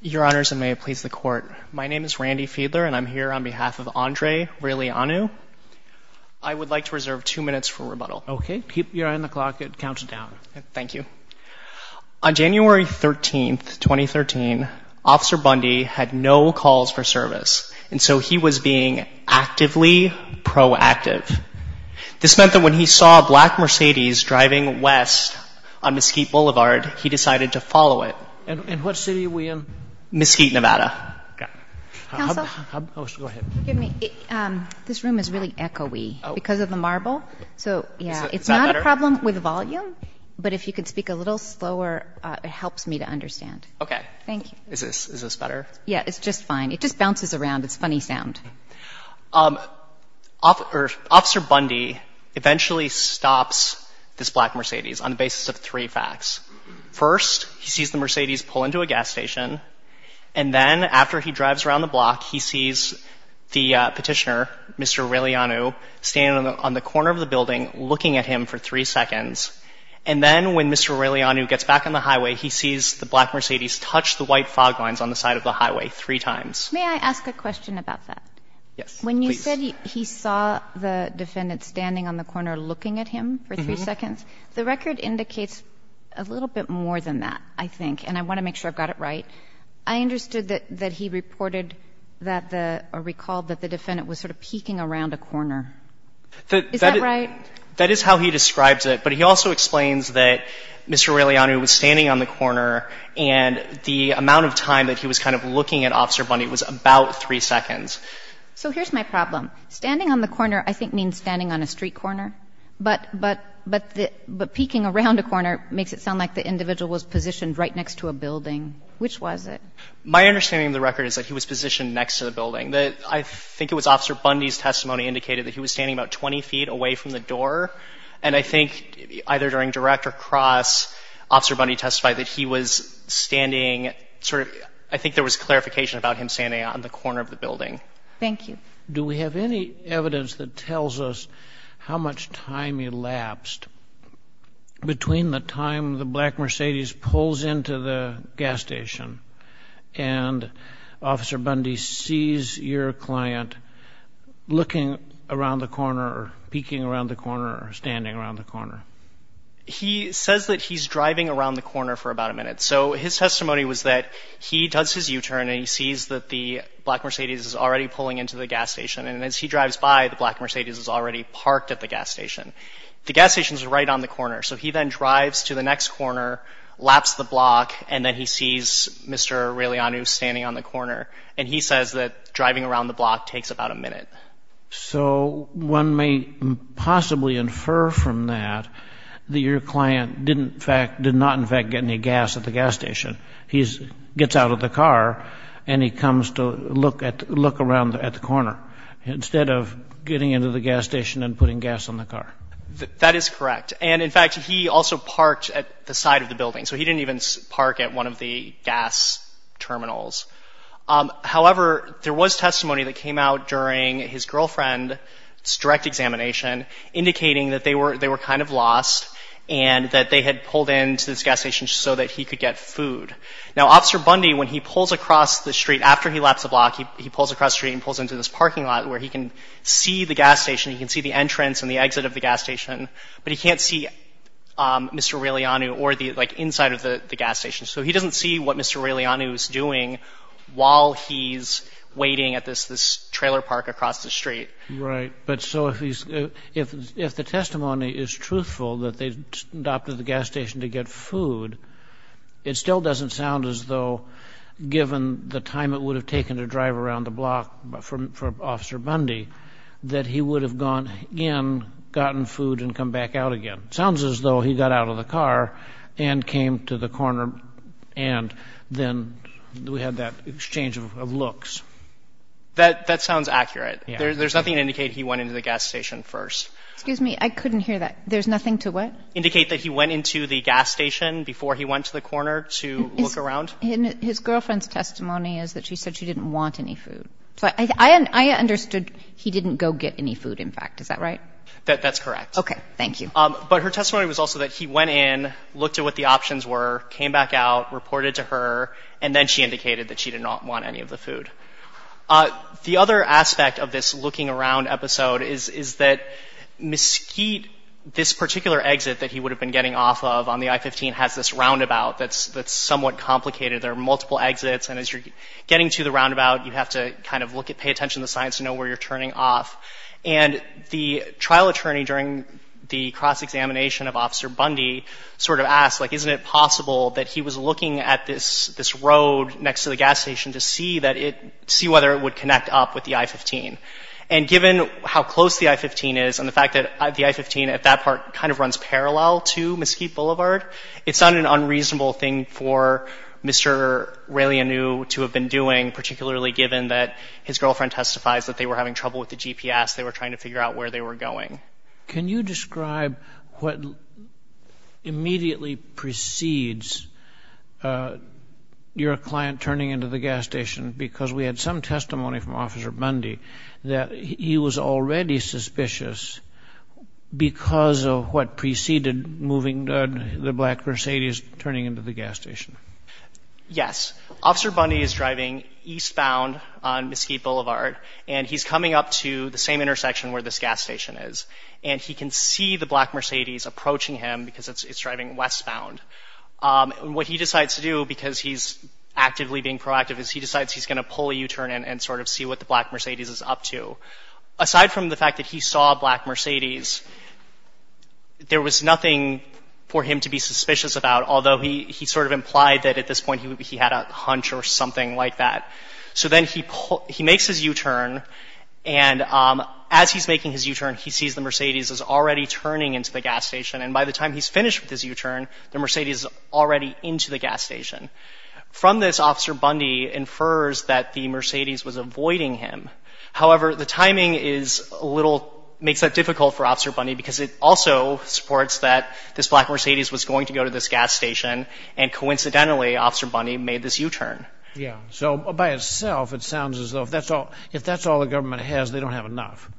Your Honors, and may it please the Court, my name is Randy Fiedler, and I'm here on behalf of Andrei Raileanu. I would like to reserve two minutes for rebuttal. Okay. Keep your eye on the clock. It counts down. Thank you. On January 13, 2013, Officer Bundy had no calls for service, and so he was being actively proactive. This meant that when he saw a black Mercedes driving west on Mesquite Boulevard, he decided to follow it. And what city are we in? Mesquite, Nevada. Counsel? Go ahead. This room is really echoey because of the marble. So, yeah, it's not a problem with volume, but if you could speak a little slower, it helps me to understand. Okay. Thank you. Is this better? Yeah, it's just fine. It just bounces around. It's a funny sound. Officer Bundy eventually stops this black Mercedes on the basis of three facts. First, he sees the Mercedes pull into a gas station, and then after he drives around the block, he sees the petitioner, Mr. Raileanu, standing on the corner of the building looking at him for three seconds. And then when Mr. Raileanu gets back on the highway, he sees the black Mercedes touch the white fog lines on the side of the highway three times. May I ask a question about that? Yes, please. When you said he saw the defendant standing on the corner looking at him for three seconds, the record indicates a little bit more than that, I think, and I want to make sure I've got it right. I understood that he reported that the or recalled that the defendant was sort of peeking around a corner. Is that right? That is how he describes it, but he also explains that Mr. Raileanu was standing on the corner and the amount of time that he was kind of looking at Officer Bundy was about three seconds. So here's my problem. Standing on the corner I think means standing on a street corner, but peeking around a corner makes it sound like the individual was positioned right next to a building. Which was it? My understanding of the record is that he was positioned next to the building. I think it was Officer Bundy's testimony indicated that he was standing about 20 feet away from the door. And I think either during direct or cross Officer Bundy testified that he was standing sort of I think there was clarification about him standing on the corner of the building. Thank you. Do we have any evidence that tells us how much time elapsed between the time the black Mercedes pulls into the gas station and Officer Bundy sees your client looking around the corner or peeking around the corner or standing around the corner? He says that he's driving around the corner for about a minute. So his testimony was that he does his U-turn and he sees that the black Mercedes is already pulling into the gas station. And as he drives by, the black Mercedes is already parked at the gas station. The gas station is right on the corner. So he then drives to the next corner, laps the block, and then he sees Mr. Raileanu standing on the corner. And he says that driving around the block takes about a minute. So one may possibly infer from that that your client did not, in fact, get any gas at the gas station. He gets out of the car and he comes to look around at the corner instead of getting into the gas station and putting gas on the car. That is correct. And, in fact, he also parked at the side of the building. So he didn't even park at one of the gas terminals. However, there was testimony that came out during his girlfriend's direct examination indicating that they were kind of lost and that they had pulled into this gas station just so that he could get food. Now, Officer Bundy, when he pulls across the street after he laps the block, he pulls across the street and pulls into this parking lot where he can see the gas station. He can see the entrance and the exit of the gas station, but he can't see Mr. Raileanu or the inside of the gas station. So he doesn't see what Mr. Raileanu is doing while he's waiting at this trailer park across the street. Right. But so if the testimony is truthful that they adopted the gas station to get food, it still doesn't sound as though, given the time it would have taken to drive around the block for Officer Bundy, that he would have gone in, gotten food, and come back out again. It sounds as though he got out of the car and came to the corner and then we had that exchange of looks. That sounds accurate. There's nothing to indicate he went into the gas station first. Excuse me. I couldn't hear that. There's nothing to what? Indicate that he went into the gas station before he went to the corner to look around. His girlfriend's testimony is that she said she didn't want any food. So I understood he didn't go get any food, in fact. Is that right? That's correct. Okay. Thank you. But her testimony was also that he went in, looked at what the options were, came back out, reported to her, and then she indicated that she did not want any of the food. The other aspect of this looking around episode is that Mesquite, this particular exit that he would have been getting off of on the I-15 has this roundabout that's somewhat complicated. There are multiple exits, and as you're getting to the roundabout, you have to kind of pay attention to the signs to know where you're turning off. And the trial attorney, during the cross-examination of Officer Bundy, sort of asked, like, isn't it possible that he was looking at this road next to the gas station to see whether it would connect up with the I-15. And given how close the I-15 is and the fact that the I-15 at that part kind of runs parallel to Mesquite Boulevard, it's not an unreasonable thing for Mr. Raylianu to have been doing, particularly given that his girlfriend testifies that they were having trouble with the GPS, they were trying to figure out where they were going. Can you describe what immediately precedes your client turning into the gas station? Because we had some testimony from Officer Bundy that he was already suspicious because of what preceded moving the black Mercedes turning into the gas station. Yes. Officer Bundy is driving eastbound on Mesquite Boulevard, and he's coming up to the same intersection where this gas station is. And he can see the black Mercedes approaching him because it's driving westbound. What he decides to do, because he's actively being proactive, is he decides he's going to pull a U-turn and sort of see what the black Mercedes is up to. Aside from the fact that he saw a black Mercedes, there was nothing for him to be suspicious about, although he sort of implied that at this point he had a hunch or something like that. So then he makes his U-turn, and as he's making his U-turn, he sees the Mercedes is already turning into the gas station. And by the time he's finished with his U-turn, the Mercedes is already into the gas station. From this, Officer Bundy infers that the Mercedes was avoiding him. However, the timing makes that difficult for Officer Bundy because it also supports that this black Mercedes was going to go to this gas station, and coincidentally, Officer Bundy made this U-turn. So by itself, it sounds as though if that's all the government has, they don't have enough.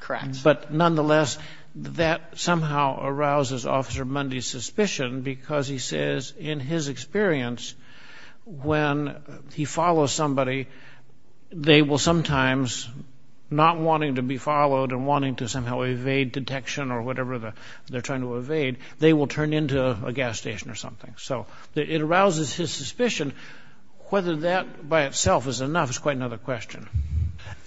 Correct. But nonetheless, that somehow arouses Officer Bundy's suspicion because he says in his experience when he follows somebody, they will sometimes, not wanting to be followed and wanting to somehow evade detection or whatever they're trying to evade, they will turn into a gas station or something. So it arouses his suspicion. Whether that by itself is enough is quite another question.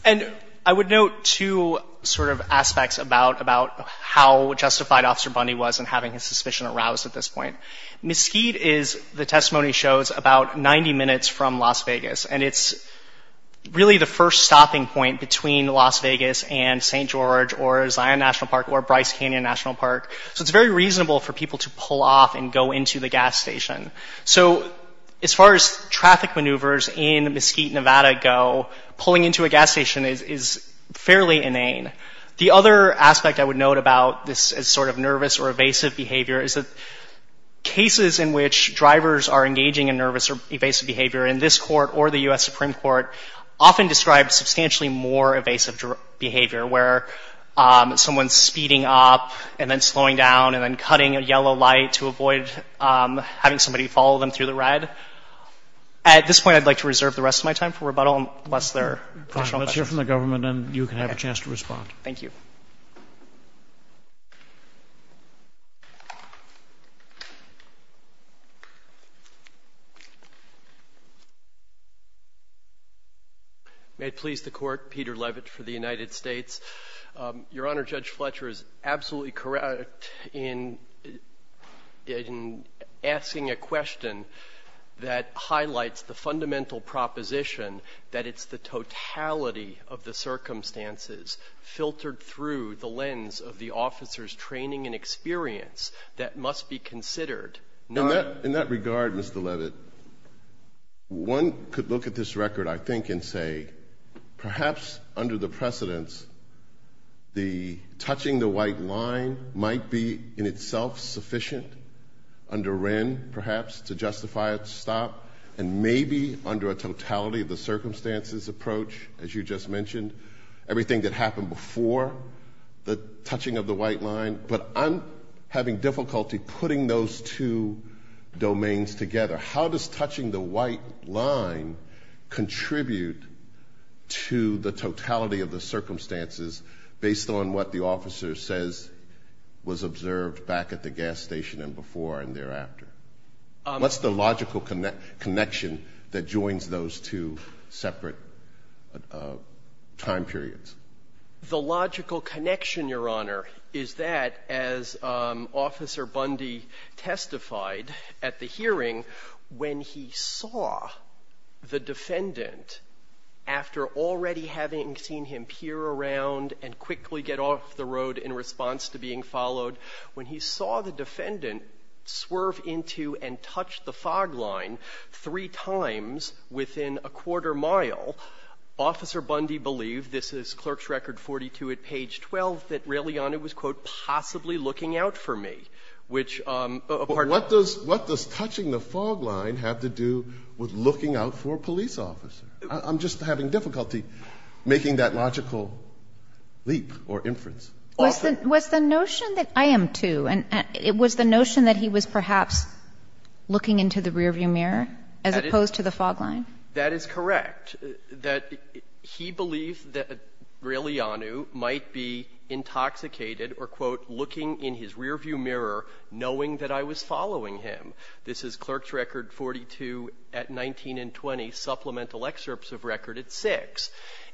And I would note two sort of aspects about how justified Officer Bundy was in having his suspicion aroused at this point. Mesquite is, the testimony shows, about 90 minutes from Las Vegas, and it's really the first stopping point between Las Vegas and St. George or Zion National Park or Bryce Canyon National Park. So it's very reasonable for people to pull off and go into the gas station. So as far as traffic maneuvers in Mesquite, Nevada, go, pulling into a gas station is fairly inane. The other aspect I would note about this as sort of nervous or evasive behavior is that cases in which drivers are engaging in nervous or evasive behavior in this court or the U.S. Supreme Court often describe substantially more evasive behavior, where someone's speeding up and then slowing down and then cutting a yellow light to avoid having somebody follow them through the red. At this point, I'd like to reserve the rest of my time for rebuttal, unless there are additional questions. You can have a chance to respond. Thank you. May it please the Court. Peter Levitt for the United States. Your Honor, Judge Fletcher is absolutely correct in asking a question that highlights the fundamental proposition that it's the totality of the circumstances filtered through the lens of the officer's training and experience that must be considered. In that regard, Mr. Levitt, one could look at this record, I think, and say perhaps under the precedence, the touching the white line might be in itself sufficient under Wren, perhaps, to justify a stop and maybe under a totality of the circumstances approach, as you just mentioned, everything that happened before the touching of the white line. But I'm having difficulty putting those two domains together. How does touching the white line contribute to the totality of the circumstances based on what the officer says was observed back at the gas station and before and thereafter? What's the logical connection that joins those two separate time periods? The logical connection, Your Honor, is that as Officer Bundy testified at the hearing, when he saw the defendant, after already having seen him peer around and quickly get off the road in response to being followed, when he saw the defendant swerve into and touch the fog line three times within a quarter-mile, Officer Bundy believed this is Clerk's Record 42 at page 12, that really, Your Honor, it was, quote, possibly looking out for me, which a part of the question is, what does touching the fog line have to do with looking out for a police officer? I'm just having difficulty making that logical leap or inference. Often. Was the notion that he was perhaps looking into the rearview mirror as opposed to the fog line? That is correct. That he believed that Grigliano might be intoxicated or, quote, looking in his rearview mirror knowing that I was following him. This is Clerk's Record 42 at 19 and 20, supplemental excerpts of Record at 6.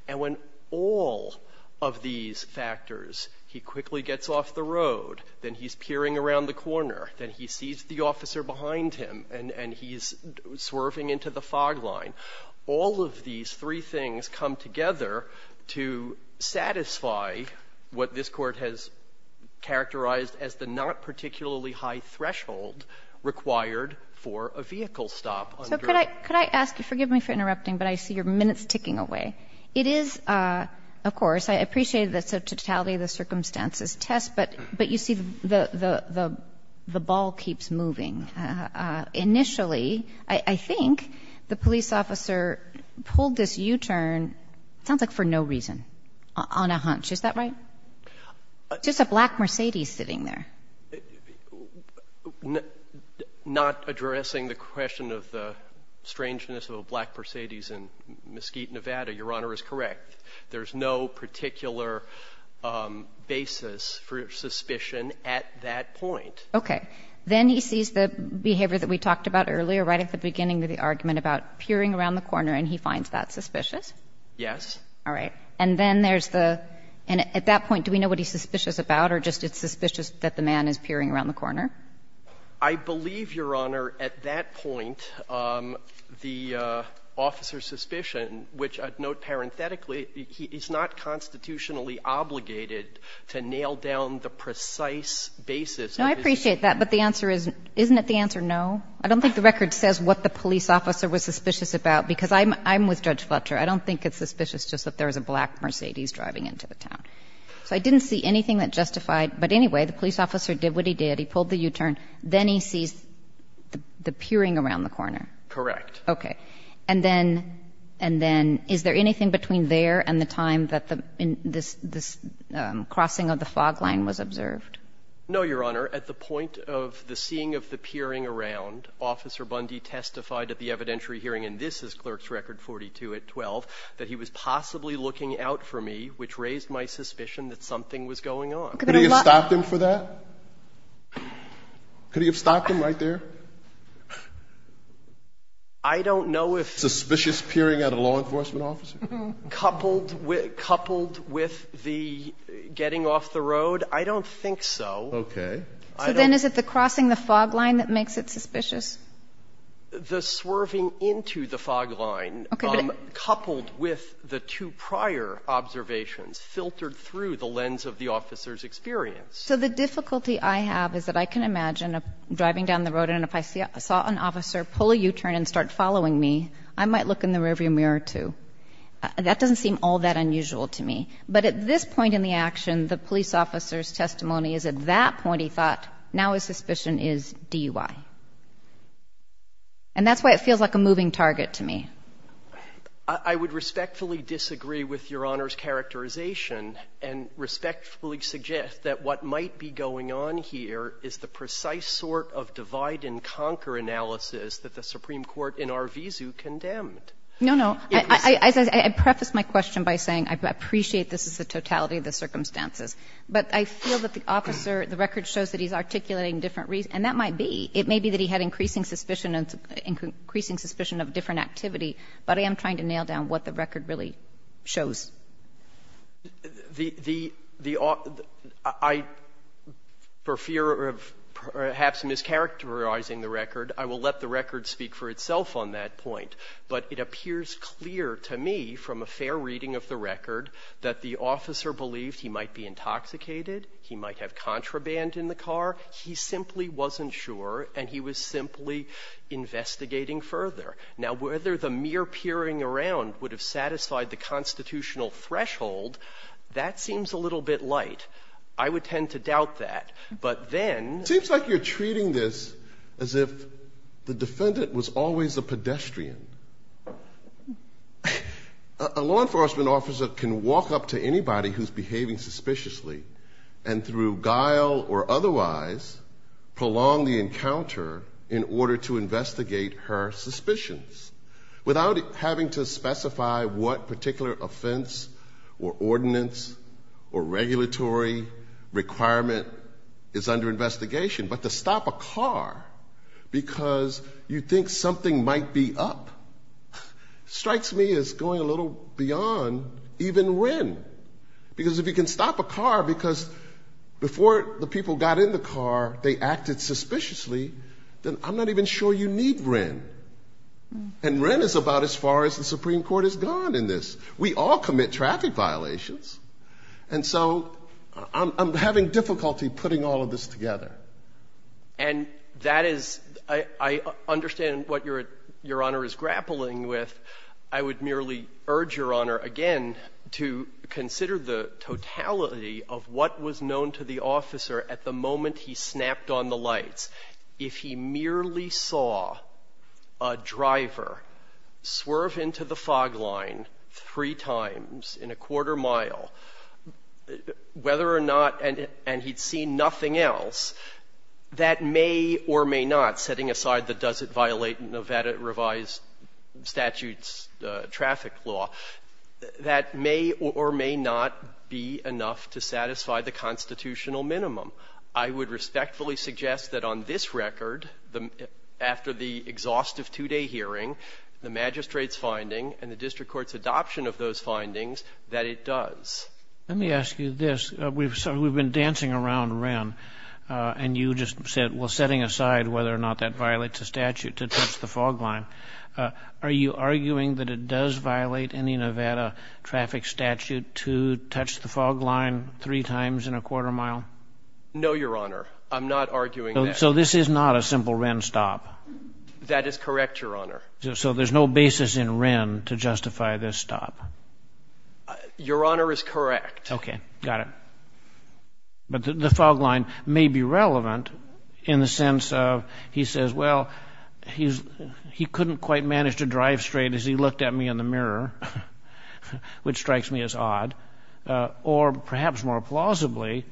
And when all of these factors, he quickly gets off the road, then he's peering around the corner, then he sees the officer behind him, and he's swerving into the fog line, all of these three things come together to satisfy what this Court has characterized as the not particularly high threshold required for a vehicle stop. So could I ask, forgive me for interrupting, but I see your minutes ticking away. It is, of course, I appreciate the totality of the circumstances test, but you see the ball keeps moving. Initially, I think the police officer pulled this U-turn, it sounds like for no reason, on a hunch. Is that right? Just a black Mercedes sitting there. Not addressing the question of the strangeness of a black Mercedes in Mesquite, Nevada, Your Honor is correct. There's no particular basis for suspicion at that point. Okay. Then he sees the behavior that we talked about earlier right at the beginning of the argument about peering around the corner, and he finds that suspicious? Yes. All right. And then there's the — and at that point, do we know what he's suspicious about, or just it's suspicious that the man is peering around the corner? I believe, Your Honor, at that point, the officer's suspicion, which I'd note parenthetically, he's not constitutionally obligated to nail down the precise basis of his behavior. No, I appreciate that, but the answer is — isn't it the answer no? I don't think the record says what the police officer was suspicious about, because I'm with Judge Fletcher. I don't think it's suspicious just that there was a black Mercedes driving into the town. So I didn't see anything that justified. But anyway, the police officer did what he did. He pulled the U-turn. Then he sees the peering around the corner. Correct. Okay. And then — and then is there anything between there and the time that the — this crossing of the fog line was observed? No, Your Honor. At the point of the seeing of the peering around, Officer Bundy testified at the evidentiary hearing, and this is Clerk's Record 42 at 12, that he was possibly looking out for me, which raised my suspicion that something was going on. Could he have stopped him for that? Could he have stopped him right there? I don't know if — Suspicious peering at a law enforcement officer? Coupled with the getting off the road? I don't think so. Okay. So then is it the crossing the fog line that makes it suspicious? The swerving into the fog line, coupled with the two prior observations, filtered through the lens of the officer's experience. So the difficulty I have is that I can imagine driving down the road, and if I saw an officer pull a U-turn and start following me, I might look in the rearview mirror, too. That doesn't seem all that unusual to me. But at this point in the action, the police officer's testimony is at that point he thought, now his suspicion is DUI. And that's why it feels like a moving target to me. I would respectfully disagree with Your Honor's characterization and respectfully suggest that what might be going on here is the precise sort of divide-and-conquer analysis that the Supreme Court in Arvizu condemned. No, no. I preface my question by saying I appreciate this is the totality of the circumstances, but I feel that the officer, the record shows that he's articulating different reasons. And that might be, it may be that he had increasing suspicion and increasing suspicion of different activity, but I am trying to nail down what the record really shows. The the the I, for fear of perhaps mischaracterizing the record, I will let the record speak for itself on that point. But it appears clear to me from a fair reading of the record that the officer believed he might be intoxicated, he might have contraband in the car. He simply wasn't sure, and he was simply investigating further. Now, whether the mere peering around would have satisfied the constitutional threshold, that seems a little bit light. I would tend to doubt that. But then ---- It seems like you're treating this as if the defendant was always a pedestrian. A law enforcement officer can walk up to anybody who's behaving suspiciously and through guile or otherwise prolong the encounter in order to investigate her suspicions without having to specify what particular offense or ordinance or regulatory requirement is under investigation. But to stop a car because you think something might be up, strikes me as going a little beyond even Wren. Because if you can stop a car because before the people got in the car they acted suspiciously, then I'm not even sure you need Wren. And Wren is about as far as the Supreme Court has gone in this. We all commit traffic violations. And so I'm having difficulty putting all of this together. And that is ---- I understand what Your Honor is grappling with. I would merely urge Your Honor again to consider the totality of what was known to the officer at the moment he snapped on the lights. If he merely saw a driver swerve into the fog line three times in a quarter mile whether or not, and he'd seen nothing else, that may or may not, setting aside the does it violate Nevada revised statutes traffic law, that may or may not be enough to satisfy the constitutional minimum. I would respectfully suggest that on this record, after the exhaustive two-day hearing, the magistrate's finding and the district court's adoption of those findings, that it does. Let me ask you this. We've been dancing around Wren, and you just said, well, setting aside whether or not that violates a statute to touch the fog line, are you arguing that it does violate any Nevada traffic statute to touch the fog line three times in a quarter mile? No, Your Honor. I'm not arguing that. So this is not a simple Wren stop. That is correct, Your Honor. So there's no basis in Wren to justify this stop. Your Honor is correct. Okay. Got it. But the fog line may be relevant in the sense of he says, well, he couldn't quite manage to drive straight as he looked at me in the mirror, which strikes me as odd, or perhaps more plausibly,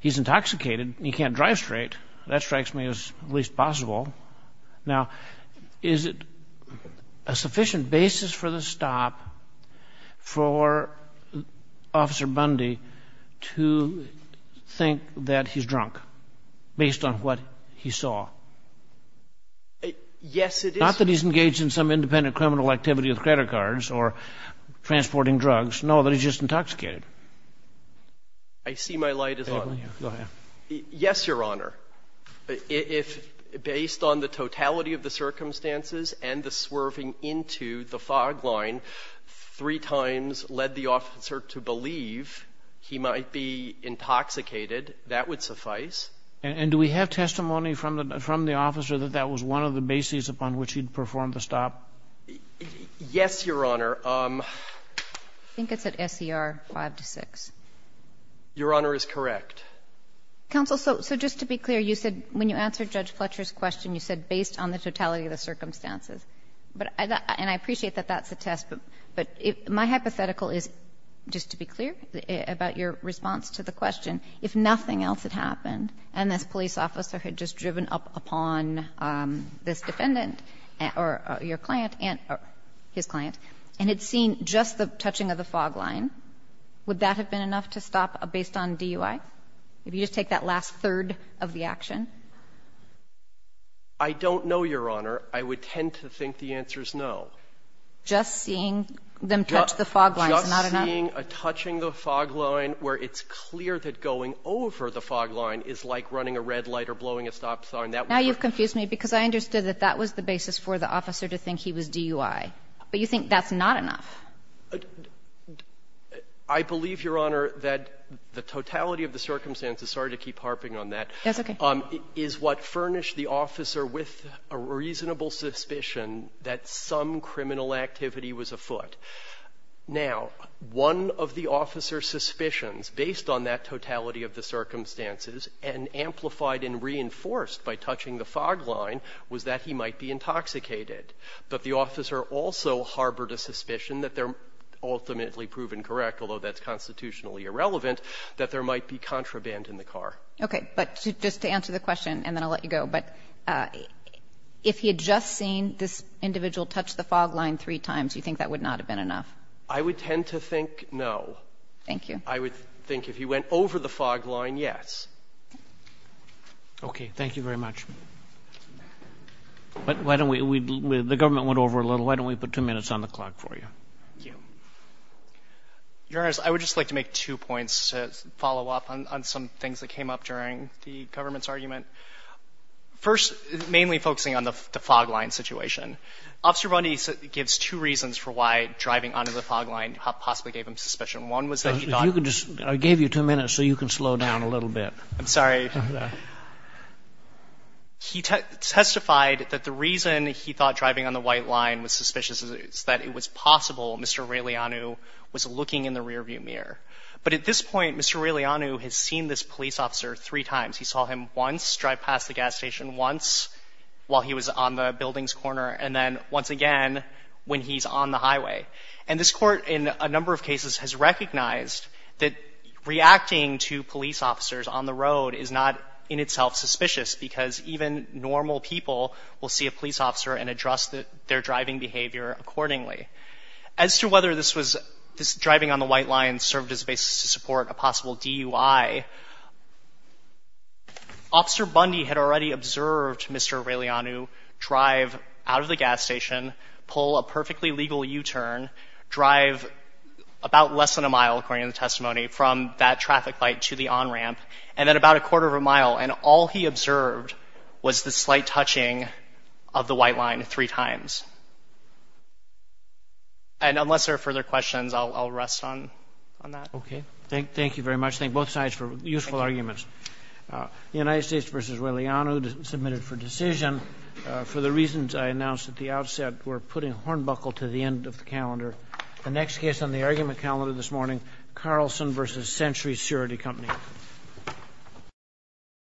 he's intoxicated and he can't drive straight. That strikes me as least possible. Now, is it a sufficient basis for the stop for Officer Bundy to think that he's drunk based on what he saw? Yes, it is. Not that he's engaged in some independent criminal activity with credit cards or transporting drugs. No, that he's just intoxicated. I see my light is on. Go ahead. Yes, Your Honor. If, based on the totality of the circumstances and the swerving into the fog line, three times led the officer to believe he might be intoxicated, that would suffice. And do we have testimony from the officer that that was one of the basis upon which he'd perform the stop? Yes, Your Honor. I think it's at SCR 5-6. Your Honor is correct. Counsel, so just to be clear, you said when you answered Judge Fletcher's question, you said based on the totality of the circumstances. But I appreciate that that's a test, but my hypothetical is, just to be clear about your response to the question, if nothing else had happened and this police officer had just driven up upon this defendant or your client and his client and had seen just the touching of the fog line, would that have been enough to stop based on DUI? If you just take that last third of the action? I don't know, Your Honor. I would tend to think the answer is no. Just seeing them touch the fog line is not enough? Just seeing a touching the fog line where it's clear that going over the fog line is like running a red light or blowing a stop sign, that would work. Now you've confused me, because I understood that that was the basis for the officer to think he was DUI. But you think that's not enough? I believe, Your Honor, that the totality of the circumstances, sorry to keep harping on that. That's okay. Is what furnished the officer with a reasonable suspicion that some criminal activity was afoot. Now, one of the officer's suspicions, based on that totality of the circumstances and amplified and reinforced by touching the fog line, was that he might be intoxicated. But the officer also harbored a suspicion that they're ultimately proven correct, although that's constitutionally irrelevant, that there might be contraband in the car. Okay. But just to answer the question, and then I'll let you go. But if he had just seen this individual touch the fog line three times, you think that would not have been enough? I would tend to think no. Thank you. I would think if he went over the fog line, yes. Okay. Thank you very much. Why don't we, the government went over a little. Why don't we put two minutes on the clock for you? Thank you. Your Honor, I would just like to make two points to follow up on some things that came up during the government's argument. First, mainly focusing on the fog line situation. Officer Bundy gives two reasons for why driving onto the fog line possibly gave him suspicion. One was that he thought. I gave you two minutes so you can slow down a little bit. I'm sorry. He testified that the reason he thought driving on the white line was suspicious is that it was possible Mr. Relianu was looking in the rearview mirror. But at this point, Mr. Relianu has seen this police officer three times. He saw him once drive past the gas station, once while he was on the building's corner, and then once again when he's on the highway. And this court in a number of cases has recognized that reacting to police officers on the road is not in itself suspicious because even normal people will see a police officer and address their driving behavior accordingly. As to whether this driving on the white line served as a basis to support a possible DUI, Officer Bundy had already observed Mr. Relianu drive out of the gas station, pull a perfectly legal U-turn, drive about less than a mile, according to the testimony, from that traffic light to the on-ramp, and then about a quarter of a mile. And all he observed was the slight touching of the white line three times. And unless there are further questions, I'll rest on that. Okay. Thank you very much. Thank both sides for useful arguments. The United States v. Relianu submitted for decision for the reasons I announced at the outset were putting Hornbuckle to the end of the calendar. The next case on the argument calendar this morning, Carlson v. Century Security Company.